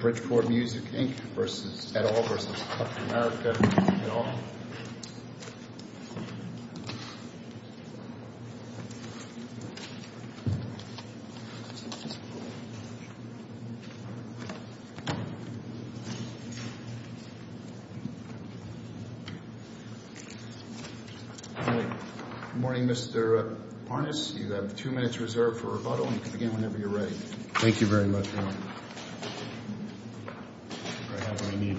Bridgeport Music, Inc. v. et al. v. Tufamerica, Inc. v. et al. Good morning, Mr. Parness. You have two minutes reserved for rebuttal. You can begin whenever you're ready. Thank you very much, Your Honor. I have what I need.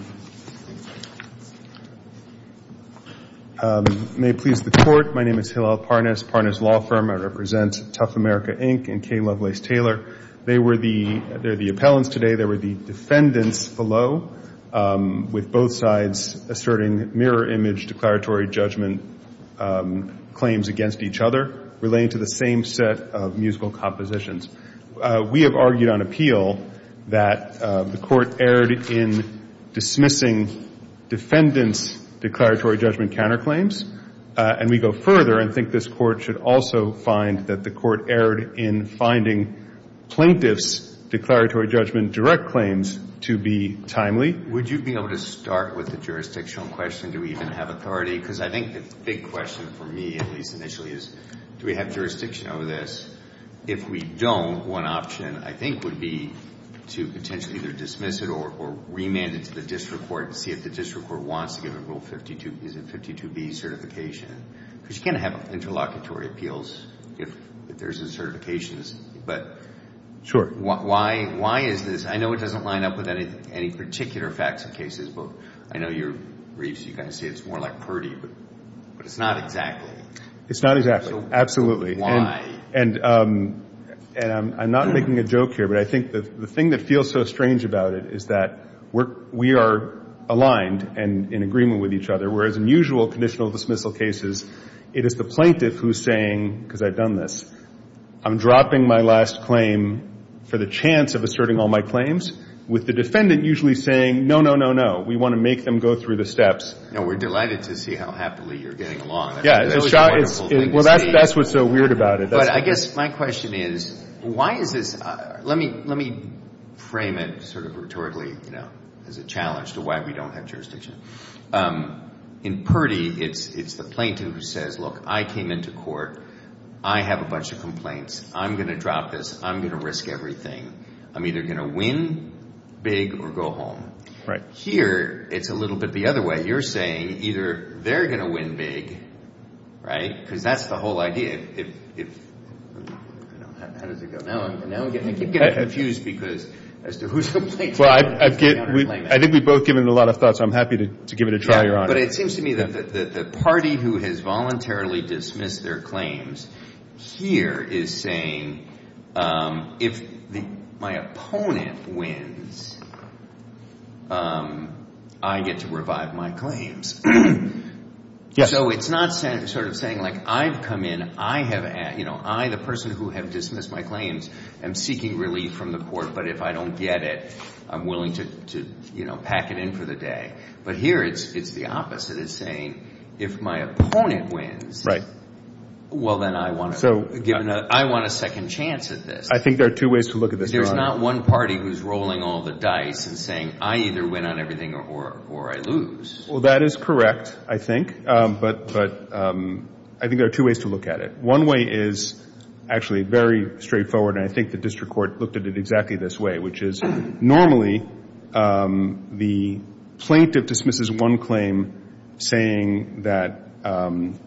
May it please the Court, my name is Hillel Parness, Parness Law Firm. I represent Tufamerica, Inc. and K. Lovelace Taylor. They're the appellants today. They were the defendants below, with both sides asserting mirror image declaratory judgment claims against each other, relating to the same set of musical compositions. We have argued on appeal that the Court erred in dismissing defendants' declaratory judgment counterclaims. And we go further and think this Court should also find that the Court erred in finding plaintiffs' declaratory judgment direct claims to be timely. Would you be able to start with the jurisdictional question, do we even have authority? Because I think the big question for me, at least initially, is do we have jurisdiction over this? If we don't, one option, I think, would be to potentially either dismiss it or remand it to the district court and see if the district court wants to give a Rule 52B certification. Because you can't have interlocutory appeals if there's a certification. But why is this? I know it doesn't line up with any particular facts and cases, but I know your briefs, you kind of say it's more like Purdy. But it's not exactly. It's not exactly. Absolutely. Why? And I'm not making a joke here, but I think the thing that feels so strange about it is that we are aligned and in agreement with each other, whereas in usual conditional dismissal cases, it is the plaintiff who's saying, because I've done this, I'm dropping my last claim for the chance of asserting all my claims, with the defendant usually saying, no, no, no, no, we want to make them go through the steps. No, we're delighted to see how happily you're getting along. Well, that's what's so weird about it. But I guess my question is, why is this? Let me frame it sort of rhetorically as a challenge to why we don't have jurisdiction. In Purdy, it's the plaintiff who says, look, I came into court. I have a bunch of complaints. I'm going to drop this. I'm going to risk everything. I'm either going to win big or go home. Here, it's a little bit the other way. You're saying either they're going to win big, right, because that's the whole idea. How does it go? Now I'm getting confused as to who's the plaintiff. I think we've both given it a lot of thought, so I'm happy to give it a try, Your Honor. But it seems to me that the party who has voluntarily dismissed their claims here is saying, if my opponent wins, I get to revive my claims. So it's not sort of saying, like, I've come in. I, the person who has dismissed my claims, am seeking relief from the court, but if I don't get it, I'm willing to pack it in for the day. But here, it's the opposite. It's saying, if my opponent wins, well, then I want a second chance at this. I think there are two ways to look at this, Your Honor. There's not one party who's rolling all the dice and saying, I either win on everything or I lose. Well, that is correct, I think. But I think there are two ways to look at it. One way is actually very straightforward, and I think the district court looked at it exactly this way, which is normally the plaintiff dismisses one claim saying that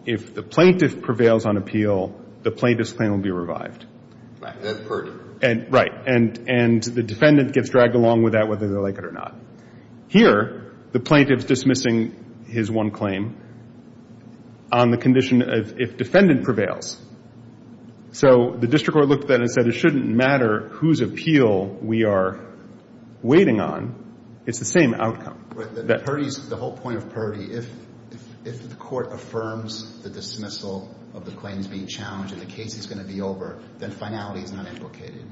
if the plaintiff prevails on appeal, the plaintiff's claim will be revived. Right. And the defendant gets dragged along with that, whether they like it or not. Here, the plaintiff's dismissing his one claim on the condition of if defendant prevails. So the district court looked at that and said, it shouldn't matter whose appeal we are waiting on. It's the same outcome. The whole point of purdie, if the court affirms the dismissal of the claims being challenged and the case is going to be over, then finality is not implicated.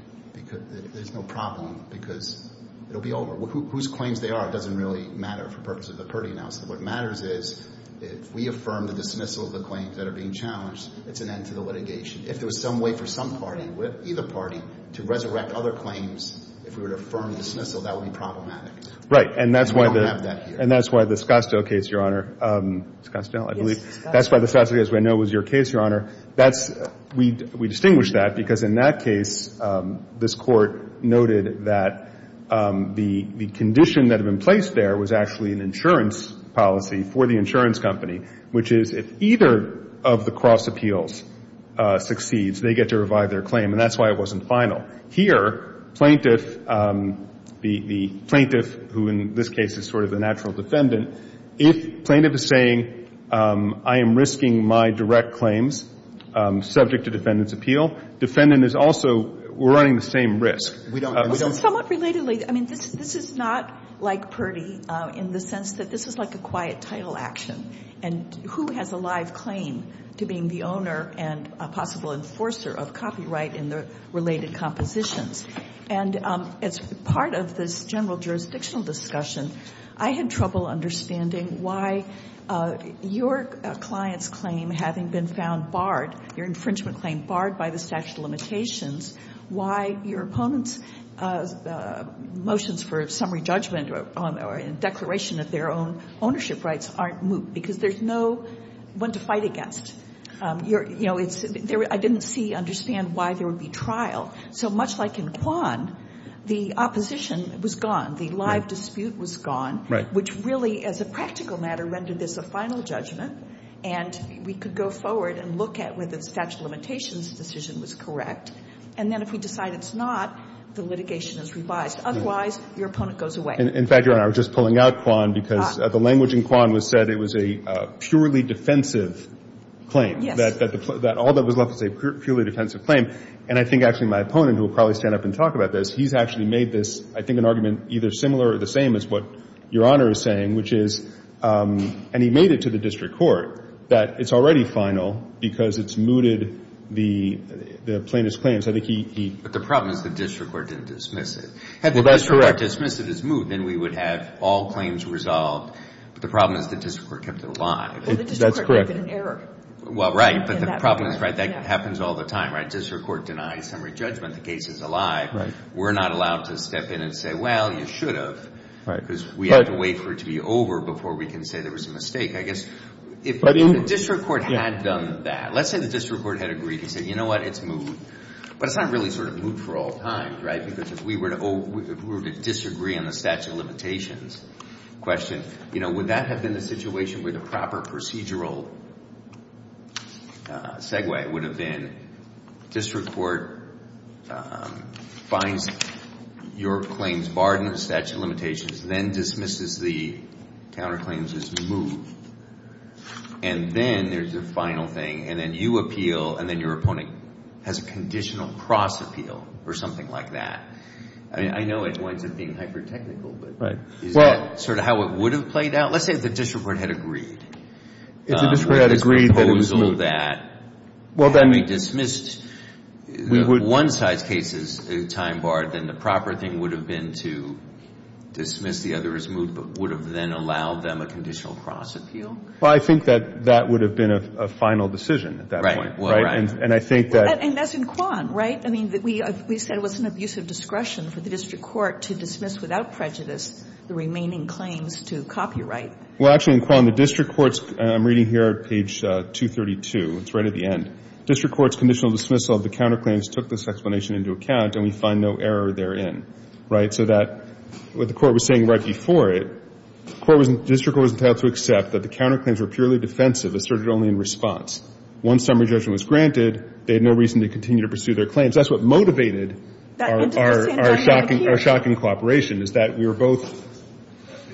There's no problem because it will be over. Whose claims they are doesn't really matter for purposes of the purdie announcement. What matters is if we affirm the dismissal of the claims that are being challenged, it's an end to the litigation. If there was some way for some party, either party, to resurrect other claims, if we were to affirm the dismissal, that would be problematic. Right. And that's why the Scottsdale case, Your Honor. Scottsdale, I believe. That's why the Scottsdale case. I know it was your case, Your Honor. We distinguish that because in that case, this court noted that the condition that had been placed there was actually an insurance policy for the insurance company, which is if either of the cross appeals succeeds, they get to revive their claim, and that's why it wasn't final. Here, plaintiff, the plaintiff who in this case is sort of the natural defendant, if plaintiff is saying I am risking my direct claims subject to defendant's appeal, defendant is also running the same risk. We don't. Somewhat relatedly, I mean, this is not like Purdy in the sense that this is like a quiet title action, and who has a live claim to being the owner and a possible enforcer of copyright in the related compositions. And as part of this general jurisdictional discussion, I had trouble understanding why your client's claim having been found barred, your infringement claim barred by the statute of limitations, why your opponent's motions for summary judgment or declaration of their own ownership rights aren't moot, because there's no one to fight against. I didn't see, understand why there would be trial. So much like in Kwan, the opposition was gone. The live dispute was gone, which really as a practical matter rendered this a final judgment, and we could go forward and look at whether the statute of limitations decision was correct. And then if we decide it's not, the litigation is revised. Otherwise, your opponent goes away. In fact, Your Honor, I was just pulling out Kwan because the language in Kwan was said it was a purely defensive claim. Yes. That all that was left was a purely defensive claim. And I think actually my opponent, who will probably stand up and talk about this, he's actually made this, I think, an argument either similar or the same as what Your Honor is saying, which is, and he made it to the district court, that it's already final because it's mooted the plaintiff's claim. So I think he. But the problem is the district court didn't dismiss it. Well, that's correct. Had the district court dismissed it as moot, then we would have all claims resolved. But the problem is the district court kept it alive. That's correct. Well, the district court might have been in error. Well, right. But the problem is, right, that happens all the time, right? District court denies summary judgment. The case is alive. We're not allowed to step in and say, well, you should have. Right. Because we have to wait for it to be over before we can say there was a mistake. I guess if the district court had done that, let's say the district court had agreed. He said, you know what, it's moot. But it's not really sort of moot for all time, right? Because if we were to disagree on the statute of limitations question, you know, would that have been the situation where the proper procedural segue would have been district court finds your claims barred in the statute of limitations, then dismisses the counterclaims as moot, and then there's the final thing, and then you appeal, and then your opponent has a conditional cross-appeal or something like that. I mean, I know it winds up being hyper-technical, but is that sort of how it would have played out? Let's say if the district court had agreed. If the district court had agreed that it was moot. Well, then we dismissed one side's case as time barred, then the proper thing would have been to dismiss the other as moot, but would have then allowed them a conditional cross-appeal? Well, I think that that would have been a final decision at that point. Right. And I think that. And that's in Quan, right? I mean, we said it was an abuse of discretion for the district court to dismiss without prejudice the remaining claims to copyright. Well, actually, in Quan, the district court's, I'm reading here at page 232. It's right at the end. District court's conditional dismissal of the counterclaims took this explanation into account, and we find no error therein. Right? So that what the court was saying right before it, the court was, the district court was entitled to accept that the counterclaims were purely defensive, asserted only in response. Once summary judgment was granted, they had no reason to continue to pursue their claims. That's what motivated our shocking cooperation is that we were both,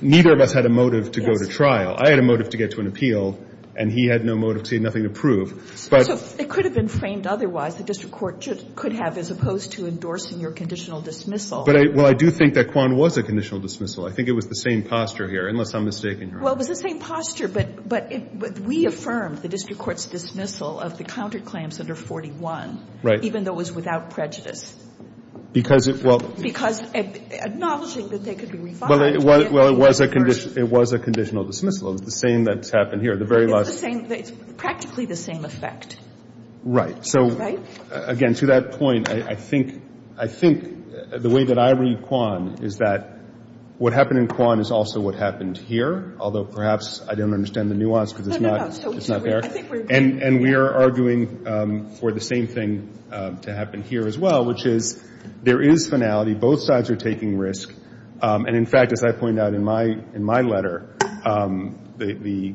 neither of us had a motive to go to trial. I had a motive to get to an appeal, and he had no motive to, nothing to prove. So it could have been framed otherwise. The district court could have as opposed to endorsing your conditional dismissal. But I, well, I do think that Quan was a conditional dismissal. I think it was the same posture here, unless I'm mistaken here. Well, it was the same posture, but we affirmed the district court's dismissal of the counterclaims under 41. Right. Even though it was without prejudice. Because it, well. Because acknowledging that they could be refined. Well, it was a conditional dismissal. It was the same that's happened here. The very last. It's the same. It's practically the same effect. Right. Right? So, again, to that point, I think, I think the way that I read Quan is that what happened in Quan is also what happened here, although perhaps I don't understand the nuance because it's not, it's not there. No, no, no. I think we're agreeing. I think we're agreeing for the same thing to happen here as well, which is there is finality. Both sides are taking risk. And, in fact, as I point out in my, in my letter, the,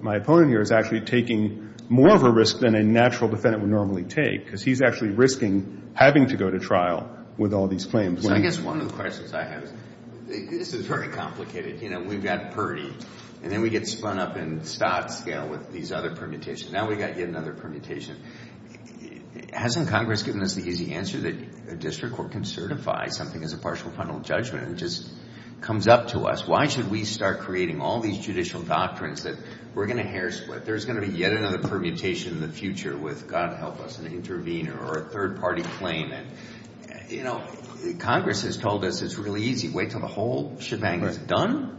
my opponent here is actually taking more of a risk than a natural defendant would normally take because he's actually risking having to go to trial with all these claims. So I guess one of the questions I have is, this is very complicated. You know, we've got Purdy, and then we get spun up in Stott scale with these other permutations. Now, we've got yet another permutation. Hasn't Congress given us the easy answer that a district court can certify something as a partial or final judgment? It just comes up to us. Why should we start creating all these judicial doctrines that we're going to hair split? There's going to be yet another permutation in the future with, God help us, an intervener or a third party claim. And, you know, Congress has told us it's really easy. Wait until the whole shebang is done.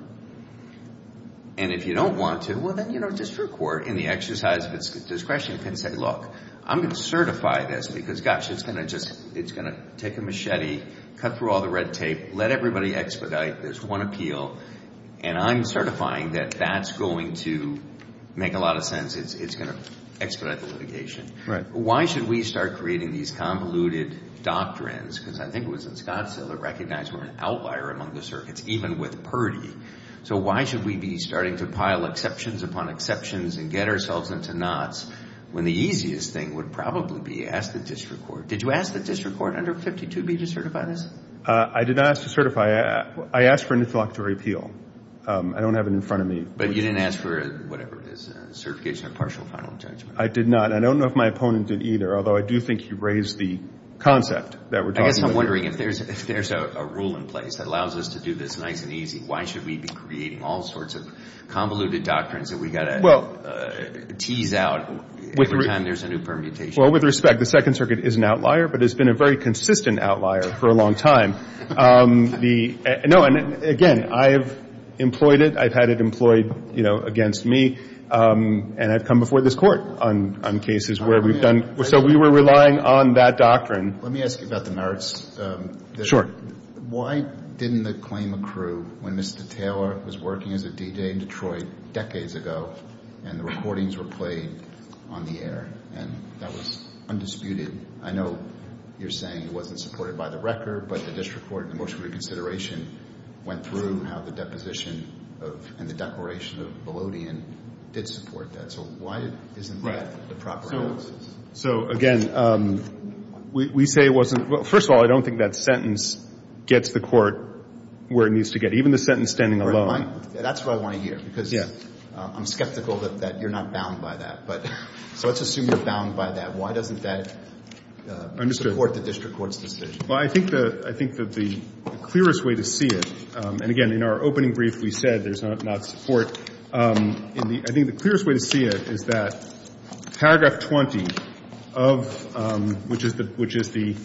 And if you don't want to, well, then, you know, district court, in the exercise of its discretion, can say, look, I'm going to certify this because, gosh, it's going to take a machete, cut through all the red tape, let everybody expedite this one appeal, and I'm certifying that that's going to make a lot of sense. It's going to expedite the litigation. Why should we start creating these convoluted doctrines? Because I think it was in Scottsdale that recognized we're an outlier among the circuits, even with Purdy. So why should we be starting to pile exceptions upon exceptions and get ourselves into knots when the easiest thing would probably be ask the district court. Did you ask the district court under 52B to certify this? I did not ask to certify. I asked for an introductory appeal. I don't have it in front of me. But you didn't ask for whatever it is, a certification of partial or final judgment. I did not. I don't know if my opponent did either, although I do think he raised the concept that we're talking about. I guess I'm wondering if there's a rule in place that allows us to do this nice and easy, why should we be creating all sorts of convoluted doctrines that we tease out every time there's a new permutation? Well, with respect, the Second Circuit is an outlier, but it's been a very consistent outlier for a long time. No, and again, I've employed it. I've had it employed against me. And I've come before this court on cases where we've done – so we were relying on that doctrine. Let me ask you about the merits. Sure. Why didn't the claim accrue when Mr. Taylor was working as a DJ in Detroit decades ago and the recordings were played on the air and that was undisputed? I know you're saying it wasn't supported by the record, but the district court in the motion of reconsideration went through how the deposition of – and the declaration of Vellodian did support that. So why isn't that the proper analysis? So, again, we say it wasn't – well, first of all, I don't think that sentence gets the court where it needs to get, even the sentence standing alone. That's what I want to hear because I'm skeptical that you're not bound by that. So let's assume you're bound by that. Why doesn't that support the district court's decision? Well, I think that the clearest way to see it – and, again, in our opening brief, we said there's not support. I think the clearest way to see it is that paragraph 20 of – which is the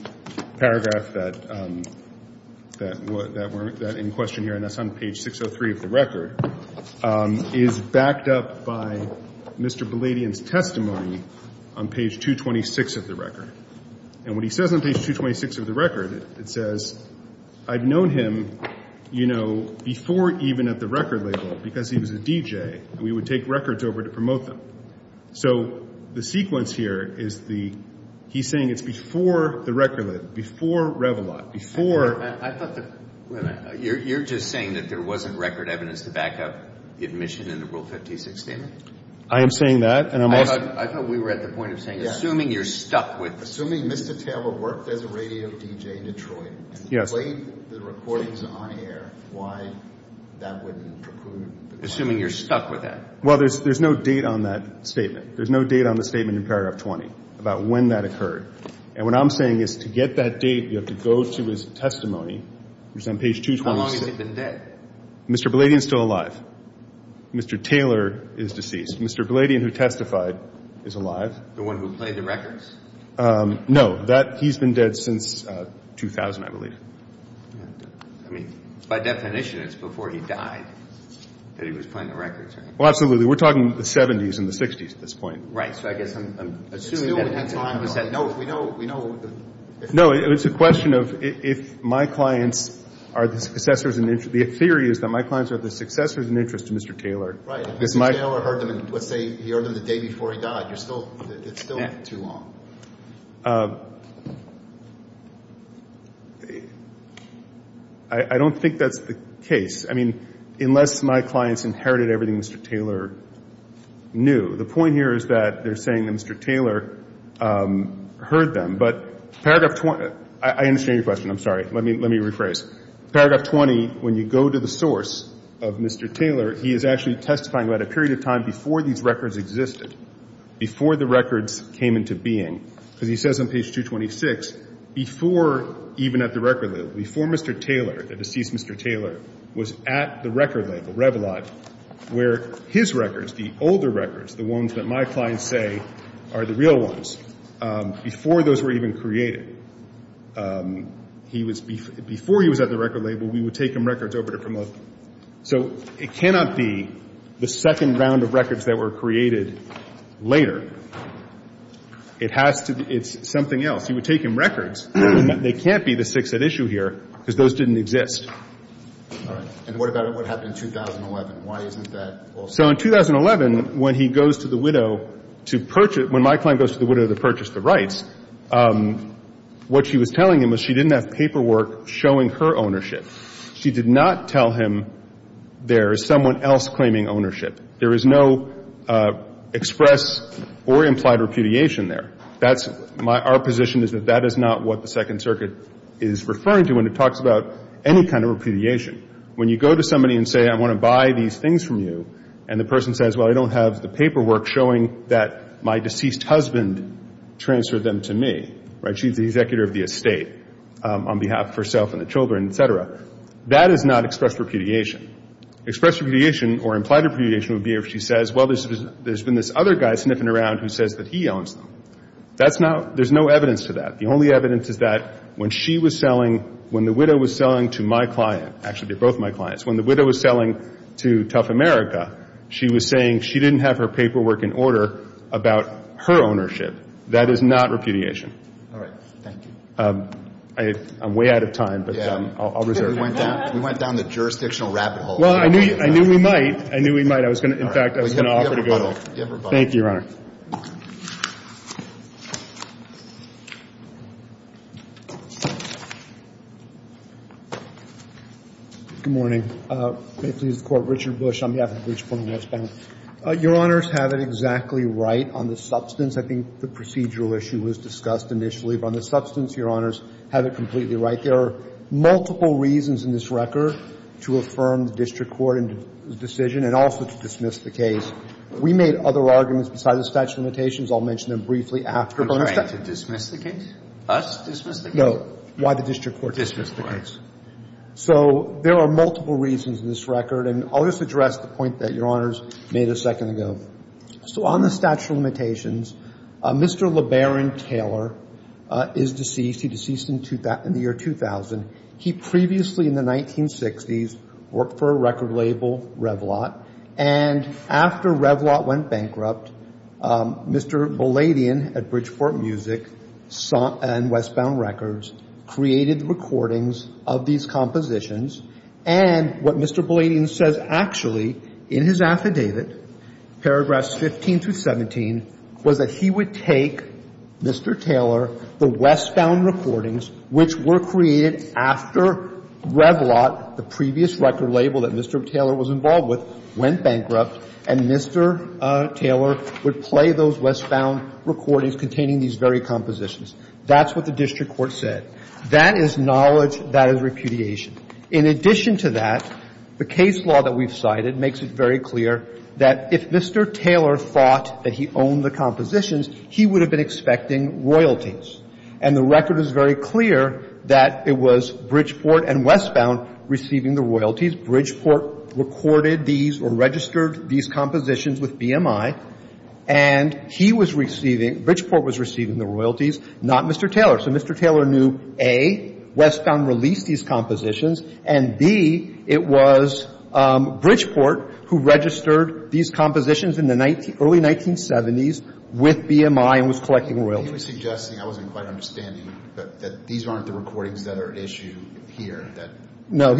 paragraph that we're – that in question here, and that's on page 603 of the record, is backed up by Mr. Vellodian's testimony on page 226 of the record. And what he says on page 226 of the record, it says, I've known him, you know, before even at the record label because he was a DJ. We would take records over to promote them. So the sequence here is the – he's saying it's before the record label. It's before Revilot, before – I thought the – you're just saying that there wasn't record evidence to back up the admission in the Rule 56 statement? I am saying that, and I'm also – I thought we were at the point of saying, assuming you're stuck with – Assuming Mr. Taylor worked as a radio DJ in Detroit and played the recordings on air, why that wouldn't preclude – Assuming you're stuck with that. Well, there's no date on that statement. There's no date on the statement in paragraph 20 about when that occurred. And what I'm saying is to get that date, you have to go to his testimony, which is on page 226. How long has he been dead? Mr. Vellodian's still alive. Mr. Taylor is deceased. Mr. Vellodian, who testified, is alive. The one who played the records? No. That – he's been dead since 2000, I believe. I mean, by definition, it's before he died that he was playing the records, right? Well, absolutely. We're talking the 70s and the 60s at this point. Right. So I guess I'm assuming that – No, we know – we know – No, it's a question of if my clients are the successors in – the theory is that my clients are the successors in interest to Mr. Taylor. Right. If Mr. Taylor heard them in – let's say he heard them the day before he died, you're still – it's still too long. I don't think that's the case. I mean, unless my clients inherited everything Mr. Taylor knew. The point here is that they're saying that Mr. Taylor heard them. But paragraph – I understand your question. I'm sorry. Let me rephrase. Paragraph 20, when you go to the source of Mr. Taylor, he is actually testifying about a period of time before these records existed, before the records came into being. Because he says on page 226, before even at the record label, before Mr. Taylor, the deceased Mr. Taylor, was at the record label, Revlod, where his records, the older records, the ones that my clients say are the real ones, before those were even created, he was – before he was at the record label, we would take him records over to promote. So it cannot be the second round of records that were created later. It has to – it's something else. You would take him records. They can't be the six at issue here because those didn't exist. All right. And what about what happened in 2011? Why isn't that also – So in 2011, when he goes to the widow to purchase – when my client goes to the widow to purchase the rights, what she was telling him was she didn't have paperwork showing her ownership. She did not tell him there is someone else claiming ownership. There is no express or implied repudiation there. That's – our position is that that is not what the Second Circuit is referring to when it talks about any kind of repudiation. When you go to somebody and say, I want to buy these things from you, and the person says, well, I don't have the paperwork showing that my deceased husband transferred them to me, right, she's the executor of the estate on behalf of herself and the children, et cetera, that is not express repudiation. Express repudiation or implied repudiation would be if she says, well, there's been this other guy sniffing around who says that he owns them. That's not – there's no evidence to that. The only evidence is that when she was selling – when the widow was selling to my client – actually, they're both my clients – when the widow was selling to Tough America, she was saying she didn't have her paperwork in order about her ownership. That is not repudiation. All right. Thank you. I'm way out of time, but I'll reserve it. We went down the jurisdictional rabbit hole. Well, I knew we might. I knew we might. I was going to – in fact, I was going to offer to go to her. Give her both. Thank you, Your Honor. Good morning. May it please the Court. Richard Bush on behalf of the Bridgeport and Westbound. Your Honors have it exactly right on the substance. I think the procedural issue was discussed initially. But on the substance, Your Honors have it completely right. There are multiple reasons in this record to affirm the district court's decision and also to dismiss the case. We made other arguments besides that. I'll mention them briefly after. Are you trying to dismiss the case? Us dismiss the case? No. Why the district court dismiss the case. Dismiss the case. So there are multiple reasons in this record. And I'll just address the point that Your Honors made a second ago. So on the statute of limitations, Mr. LeBaron Taylor is deceased. He deceased in the year 2000. He previously in the 1960s worked for a record label, Revlot. And after Revlot went bankrupt, Mr. Bouladian at Bridgeport Music and Westbound Records created the recordings of these compositions. And what Mr. Bouladian says actually in his affidavit, paragraphs 15 through 17, was that he would take Mr. Taylor, the Westbound Recordings, which were created after Revlot, the previous record label that Mr. Taylor was involved with, went bankrupt, and Mr. Taylor would play those Westbound Recordings containing these very compositions. That's what the district court said. That is knowledge. That is repudiation. In addition to that, the case law that we've cited makes it very clear that if Mr. Taylor thought that he owned the compositions, he would have been expecting royalties. And the record is very clear that it was Bridgeport and Westbound receiving the royalties. Bridgeport recorded these or registered these compositions with BMI. And he was receiving, Bridgeport was receiving the royalties, not Mr. Taylor. So Mr. Taylor knew, A, Westbound released these compositions, and, B, it was Bridgeport who registered these compositions in the early 1970s with BMI and was collecting royalties. So I think Mr. Taylor was suggesting, I wasn't quite understanding, that these aren't the recordings that are at issue here. No.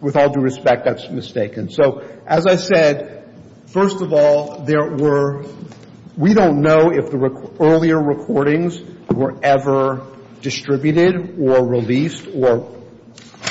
With all due respect, that's mistaken. So as I said, first of all, there were — we don't know if the earlier recordings were ever distributed or released or —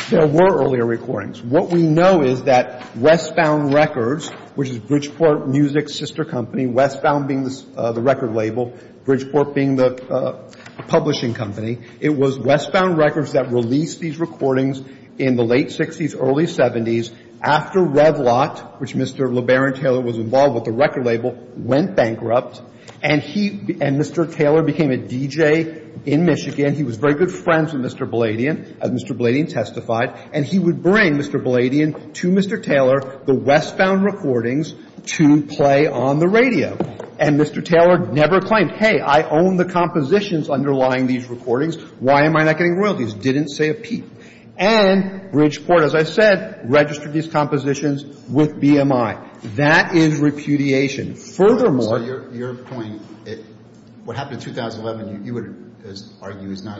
there were earlier recordings. What we know is that Westbound Records, which is Bridgeport Music's sister company, Westbound being the record label, Bridgeport being the publishing company, it was Westbound Records that released these recordings in the late 60s, early 70s, after Revlot, which Mr. LeBaron Taylor was involved with, the record label, went bankrupt and he — and Mr. Taylor became a DJ in Michigan. He was very good friends with Mr. Bladian, as Mr. Bladian testified. And he would bring Mr. Bladian to Mr. Taylor the Westbound recordings to play on the radio. And Mr. Taylor never claimed, hey, I own the compositions underlying these recordings. Why am I not getting royalties? Didn't say a peep. And Bridgeport, as I said, registered these compositions with BMI. That is repudiation. Furthermore — So your — your point, what happened in 2011, you would argue, is not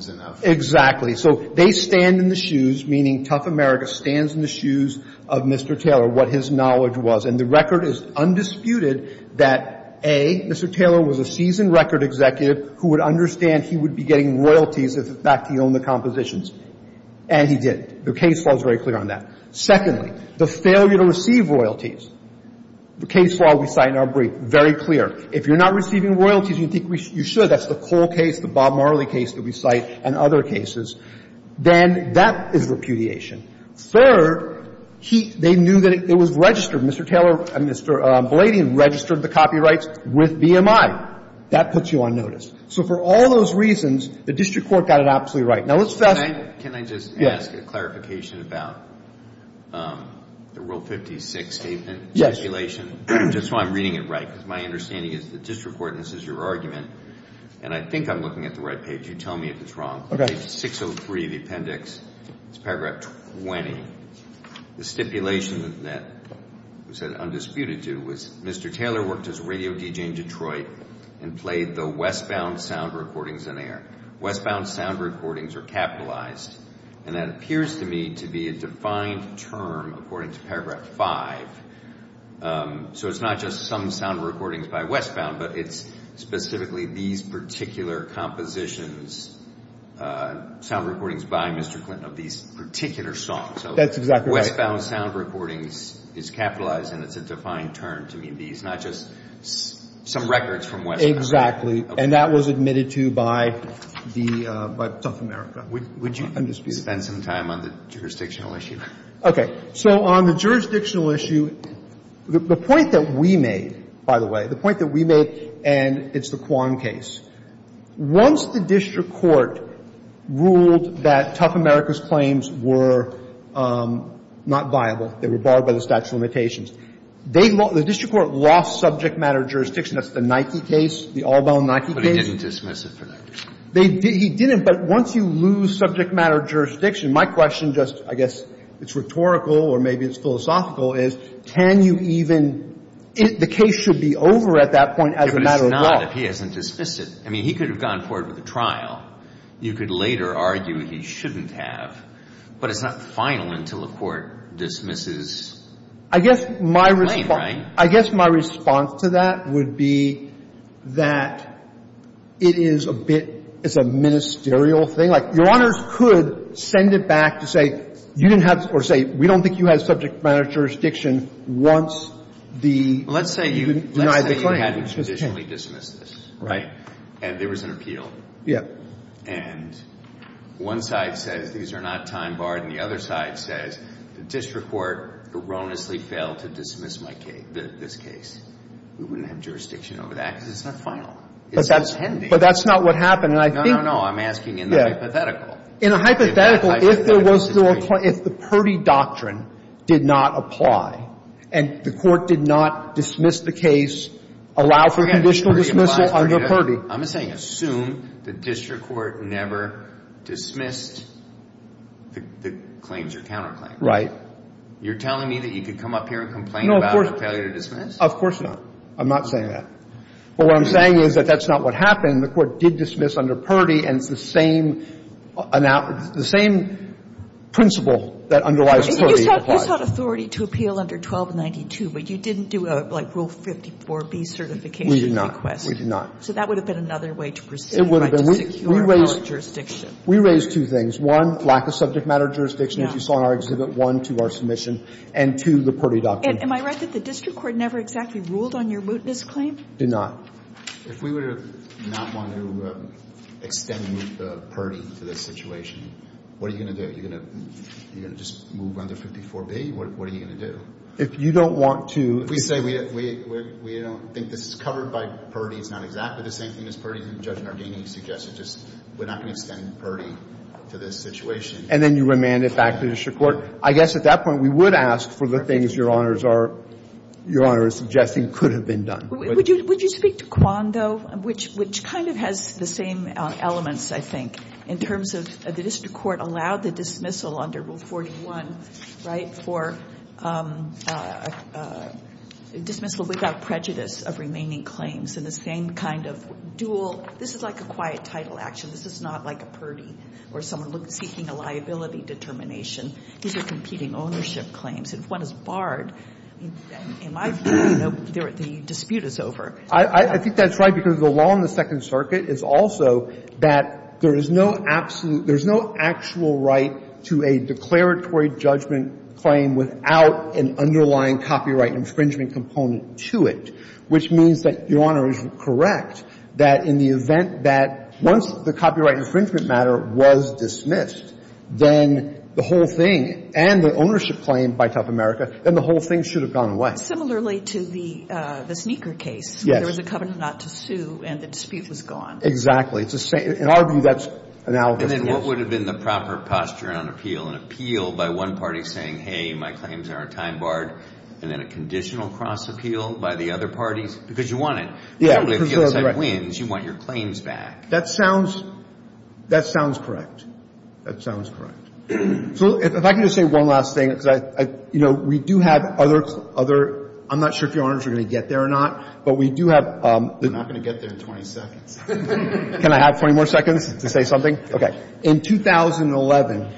— is just Exactly. So they stand in the shoes, meaning Tough America stands in the shoes of Mr. Taylor, what his knowledge was. And the record is undisputed that, A, Mr. Taylor was a seasoned record executive who would understand he would be getting royalties if, in fact, he owned the compositions. And he did. The case law is very clear on that. Secondly, the failure to receive royalties, the case law we cite in our brief, very clear. If you're not receiving royalties, you think you should. That's the Cole case, the Bob Marley case that we cite, and other cases. Then that is repudiation. Third, he — they knew that it was registered. Mr. Taylor and Mr. Belladion registered the copyrights with BMI. That puts you on notice. So for all those reasons, the district court got it absolutely right. Now, let's — Can I just ask a clarification about the Rule 56 statement? Yes. Just so I'm reading it right, because my understanding is the district court, and I think I'm looking at the right page. You tell me if it's wrong. Page 603, the appendix. It's paragraph 20. The stipulation that was said undisputed to was Mr. Taylor worked as a radio DJ in Detroit and played the westbound sound recordings in air. Westbound sound recordings are capitalized, and that appears to me to be a defined term according to paragraph 5. So it's not just some sound recordings by westbound, but it's specifically these particular compositions, sound recordings by Mr. Clinton of these particular songs. That's exactly right. So westbound sound recordings is capitalized, and it's a defined term to me. It's not just some records from westbound. Exactly. And that was admitted to by the — by South America. Would you — Undisputed. Spend some time on the jurisdictional issue. Okay. So on the jurisdictional issue, the point that we made, by the way, the point that we made, and it's the Quan case, once the district court ruled that Tough America's claims were not viable, they were barred by the statute of limitations, they — the district court lost subject matter jurisdiction. That's the Nike case, the all-bound Nike case. But it didn't dismiss it for that reason. It didn't. But once you lose subject matter jurisdiction, my question just — I guess it's rhetorical or maybe it's philosophical, is can you even — the case should be over at that point as a matter of law. But it's not if he hasn't dismissed it. I mean, he could have gone forward with a trial. You could later argue he shouldn't have. But it's not final until a court dismisses the claim, right? I guess my — I guess my response to that would be that it is a bit — it's a ministerial thing. Like, Your Honors could send it back to say you didn't have — or say we don't think you had subject matter jurisdiction once the — Well, let's say you — You denied the claim. Let's say you hadn't traditionally dismissed this, right? And there was an appeal. Yeah. And one side says these are not time-barred, and the other side says the district court erroneously failed to dismiss my case — this case. We wouldn't have jurisdiction over that because it's not final. It's not pending. But that's — but that's not what happened. And I think — No, no, no. I'm asking in the hypothetical. In a hypothetical, if there was still a — if the Purdy doctrine did not apply and the Court did not dismiss the case, allow for conditional dismissal under Purdy — I'm saying assume the district court never dismissed the claims or counterclaim. Right. You're telling me that you could come up here and complain about a failure to dismiss? No, of course not. I'm not saying that. But what I'm saying is that that's not what happened. The Court did dismiss under Purdy, and it's the same — the same principle that underlies Purdy applies. You sought authority to appeal under 1292, but you didn't do a, like, Rule 54B certification request. We did not. So that would have been another way to proceed, right? It would have been. To secure our jurisdiction. We raised two things. One, lack of subject matter jurisdiction, as you saw in our exhibit. One, to our submission. And two, the Purdy doctrine. Am I right that the district court never exactly ruled on your mootness claim? Did not. If we would have not wanted to extend Purdy to this situation, what are you going to do? Are you going to just move under 54B? What are you going to do? If you don't want to — We say we don't think this is covered by Purdy. It's not exactly the same thing as Purdy. Judge Nardini suggested just we're not going to extend Purdy to this situation. And then you remand it back to the district court. I guess at that point, we would ask for the things Your Honor is suggesting could have been done. Would you speak to Quan, though, which kind of has the same elements, I think, in terms of the district court allowed the dismissal under Rule 41, right, for dismissal without prejudice of remaining claims. And the same kind of dual — this is like a quiet title action. This is not like a Purdy or someone seeking a liability determination. These are competing ownership claims. If one is barred, in my view, you know, the dispute is over. I think that's right, because the law in the Second Circuit is also that there is no absolute — there's no actual right to a declaratory judgment claim without an underlying copyright infringement component to it, which means that Your Honor is correct that in the event that once the copyright infringement matter was dismissed, then the whole thing and the ownership claim by Tough America, then the whole thing should have gone away. Similarly to the sneaker case. Yes. There was a covenant not to sue, and the dispute was gone. Exactly. In our view, that's analogous. And then what would have been the proper posture on appeal? An appeal by one party saying, hey, my claims aren't time-barred, and then a conditional cross-appeal by the other parties? Because you want it. Yeah. If the other side wins, you want your claims back. That sounds — that sounds correct. That sounds correct. So if I can just say one last thing, because I — you know, we do have other — I'm not sure if Your Honors are going to get there or not, but we do have — I'm not going to get there in 20 seconds. Can I have 20 more seconds to say something? Okay. In 2011,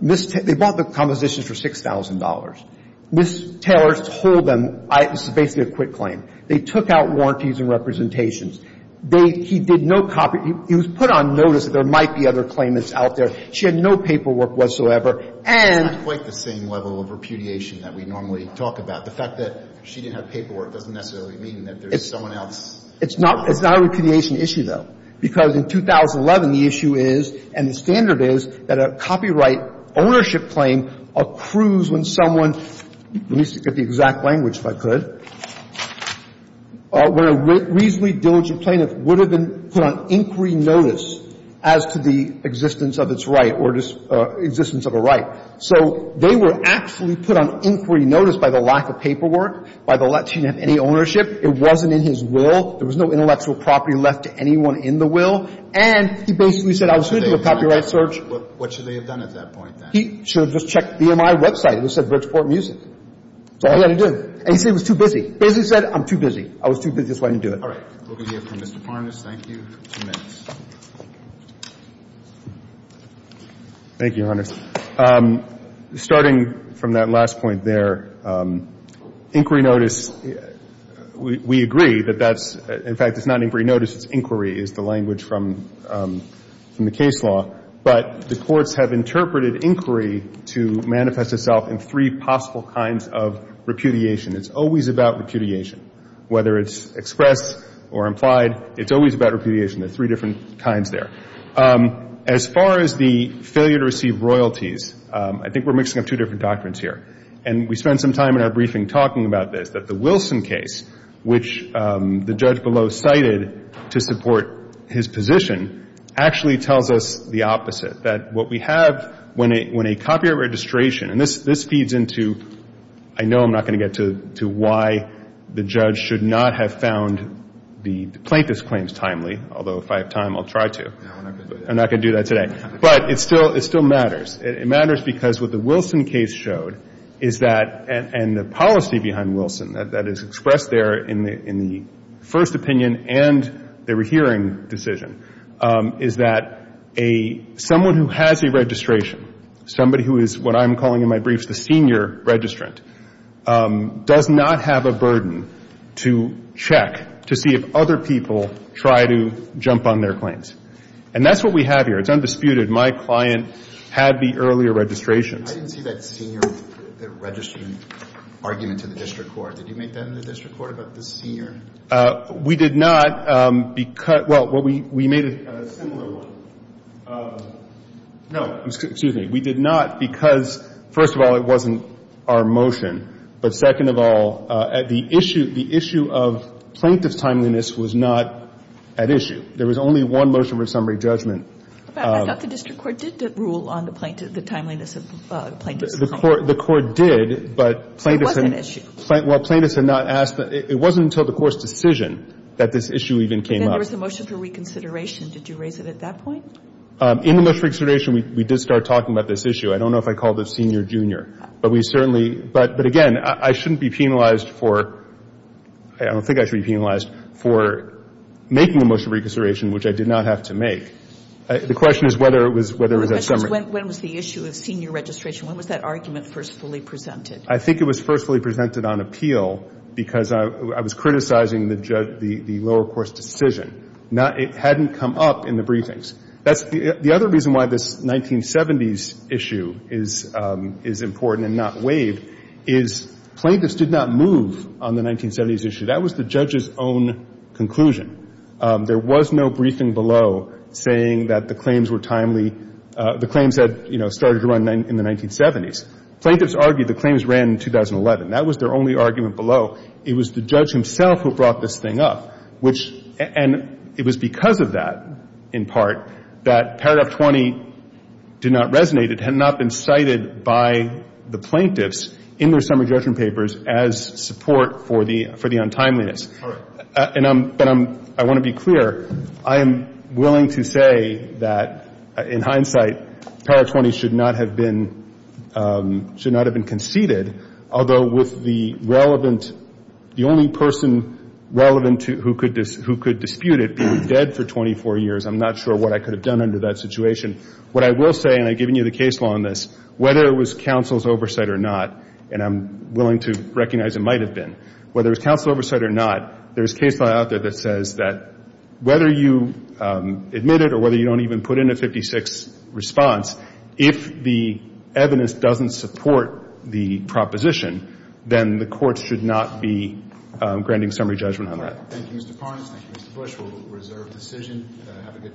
Ms. — they bought the compositions for $6,000. Ms. Taylor told them — this is basically a quit claim. They took out warranties and representations. They — he did no copy — he was put on notice that there might be other claimants out there. She had no paperwork whatsoever. And — It's not quite the same level of repudiation that we normally talk about. The fact that she didn't have paperwork doesn't necessarily mean that there's someone else — It's not — it's not a repudiation issue, though, because in 2011, the issue is, and the standard is, that a copyright ownership claim accrues when someone — let me read the language, if I could — when a reasonably diligent plaintiff would have been put on inquiry notice as to the existence of its right or existence of a right. So they were actually put on inquiry notice by the lack of paperwork, by the lack — she didn't have any ownership. It wasn't in his will. There was no intellectual property left to anyone in the will. And he basically said, I was going to do a copyright search. What should they have done at that point, then? He should have just checked BMI website. It said Bridgeport Music. That's all he had to do. And he said it was too busy. Basically said, I'm too busy. I was too busy, so I didn't do it. All right. We'll go to you, Mr. Farnes. Thank you. Two minutes. Thank you, Your Honors. Starting from that last point there, inquiry notice, we agree that that's — in fact, it's not inquiry notice. It's inquiry, is the language from the case law. But the courts have interpreted inquiry to manifest itself in three possible kinds of repudiation. It's always about repudiation. Whether it's expressed or implied, it's always about repudiation. There are three different kinds there. As far as the failure to receive royalties, I think we're mixing up two different doctrines here. And we spent some time in our briefing talking about this, that the Wilson case, which the judge below cited to support his position, actually tells us the opposite, that what we have when a copyright registration — and this feeds into — I know I'm not going to get to why the judge should not have found the plaintiff's claims timely, although if I have time, I'll try to. I'm not going to do that today. But it still matters. It matters because what the Wilson case showed is that — and the policy behind Wilson that is expressed there in the first opinion and the hearing decision is that a — someone who has a registration, somebody who is what I'm calling in my briefs the senior registrant, does not have a burden to check, to see if other people try to jump on their claims. And that's what we have here. It's undisputed. My client had the earlier registrations. I didn't see that senior — that registering argument to the district court. Did you make that in the district court about the senior? We did not because — well, we made a similar one. No. Excuse me. We did not because, first of all, it wasn't our motion. But second of all, the issue — the issue of plaintiff's timeliness was not at issue. There was only one motion for summary judgment. I thought the district court did rule on the timeliness of plaintiff's — The court did, but — It was an issue. Well, plaintiffs had not asked — it wasn't until the court's decision that this issue even came up. And then there was the motion for reconsideration. Did you raise it at that point? In the motion for reconsideration, we did start talking about this issue. I don't know if I called it senior, junior. But we certainly — but, again, I shouldn't be penalized for — I don't think I should be penalized for making a motion for reconsideration, which I did not have to make. The question is whether it was a summary. When was the issue of senior registration? When was that argument first fully presented? I think it was first fully presented on appeal because I was criticizing the lower-course decision. It hadn't come up in the briefings. The other reason why this 1970s issue is important and not waived is plaintiffs did not move on the 1970s issue. That was the judge's own conclusion. There was no briefing below saying that the claims were timely — the claims had, you know, started to run in the 1970s. Plaintiffs argued the claims ran in 2011. That was their only argument below. It was the judge himself who brought this thing up, which — and it was because of that, in part, that Paragraph 20 did not resonate. It had not been cited by the plaintiffs in their summary judgment papers as support for the untimeliness. But I want to be clear. I am willing to say that, in hindsight, Paragraph 20 should not have been conceded, although with the relevant — the only person relevant who could dispute it being dead for 24 years. I'm not sure what I could have done under that situation. What I will say, and I've given you the case law on this, whether it was counsel's oversight or not, and I'm willing to recognize it might have been, whether it was counsel's oversight or not, there's case law out there that says that whether you admit it or whether you don't even put in a 56 response, if the evidence doesn't support the proposition, then the court should not be granting summary judgment on that. Thank you, Mr. Parnes. Thank you, Mr. Bush. We'll reserve decision. Have a good day.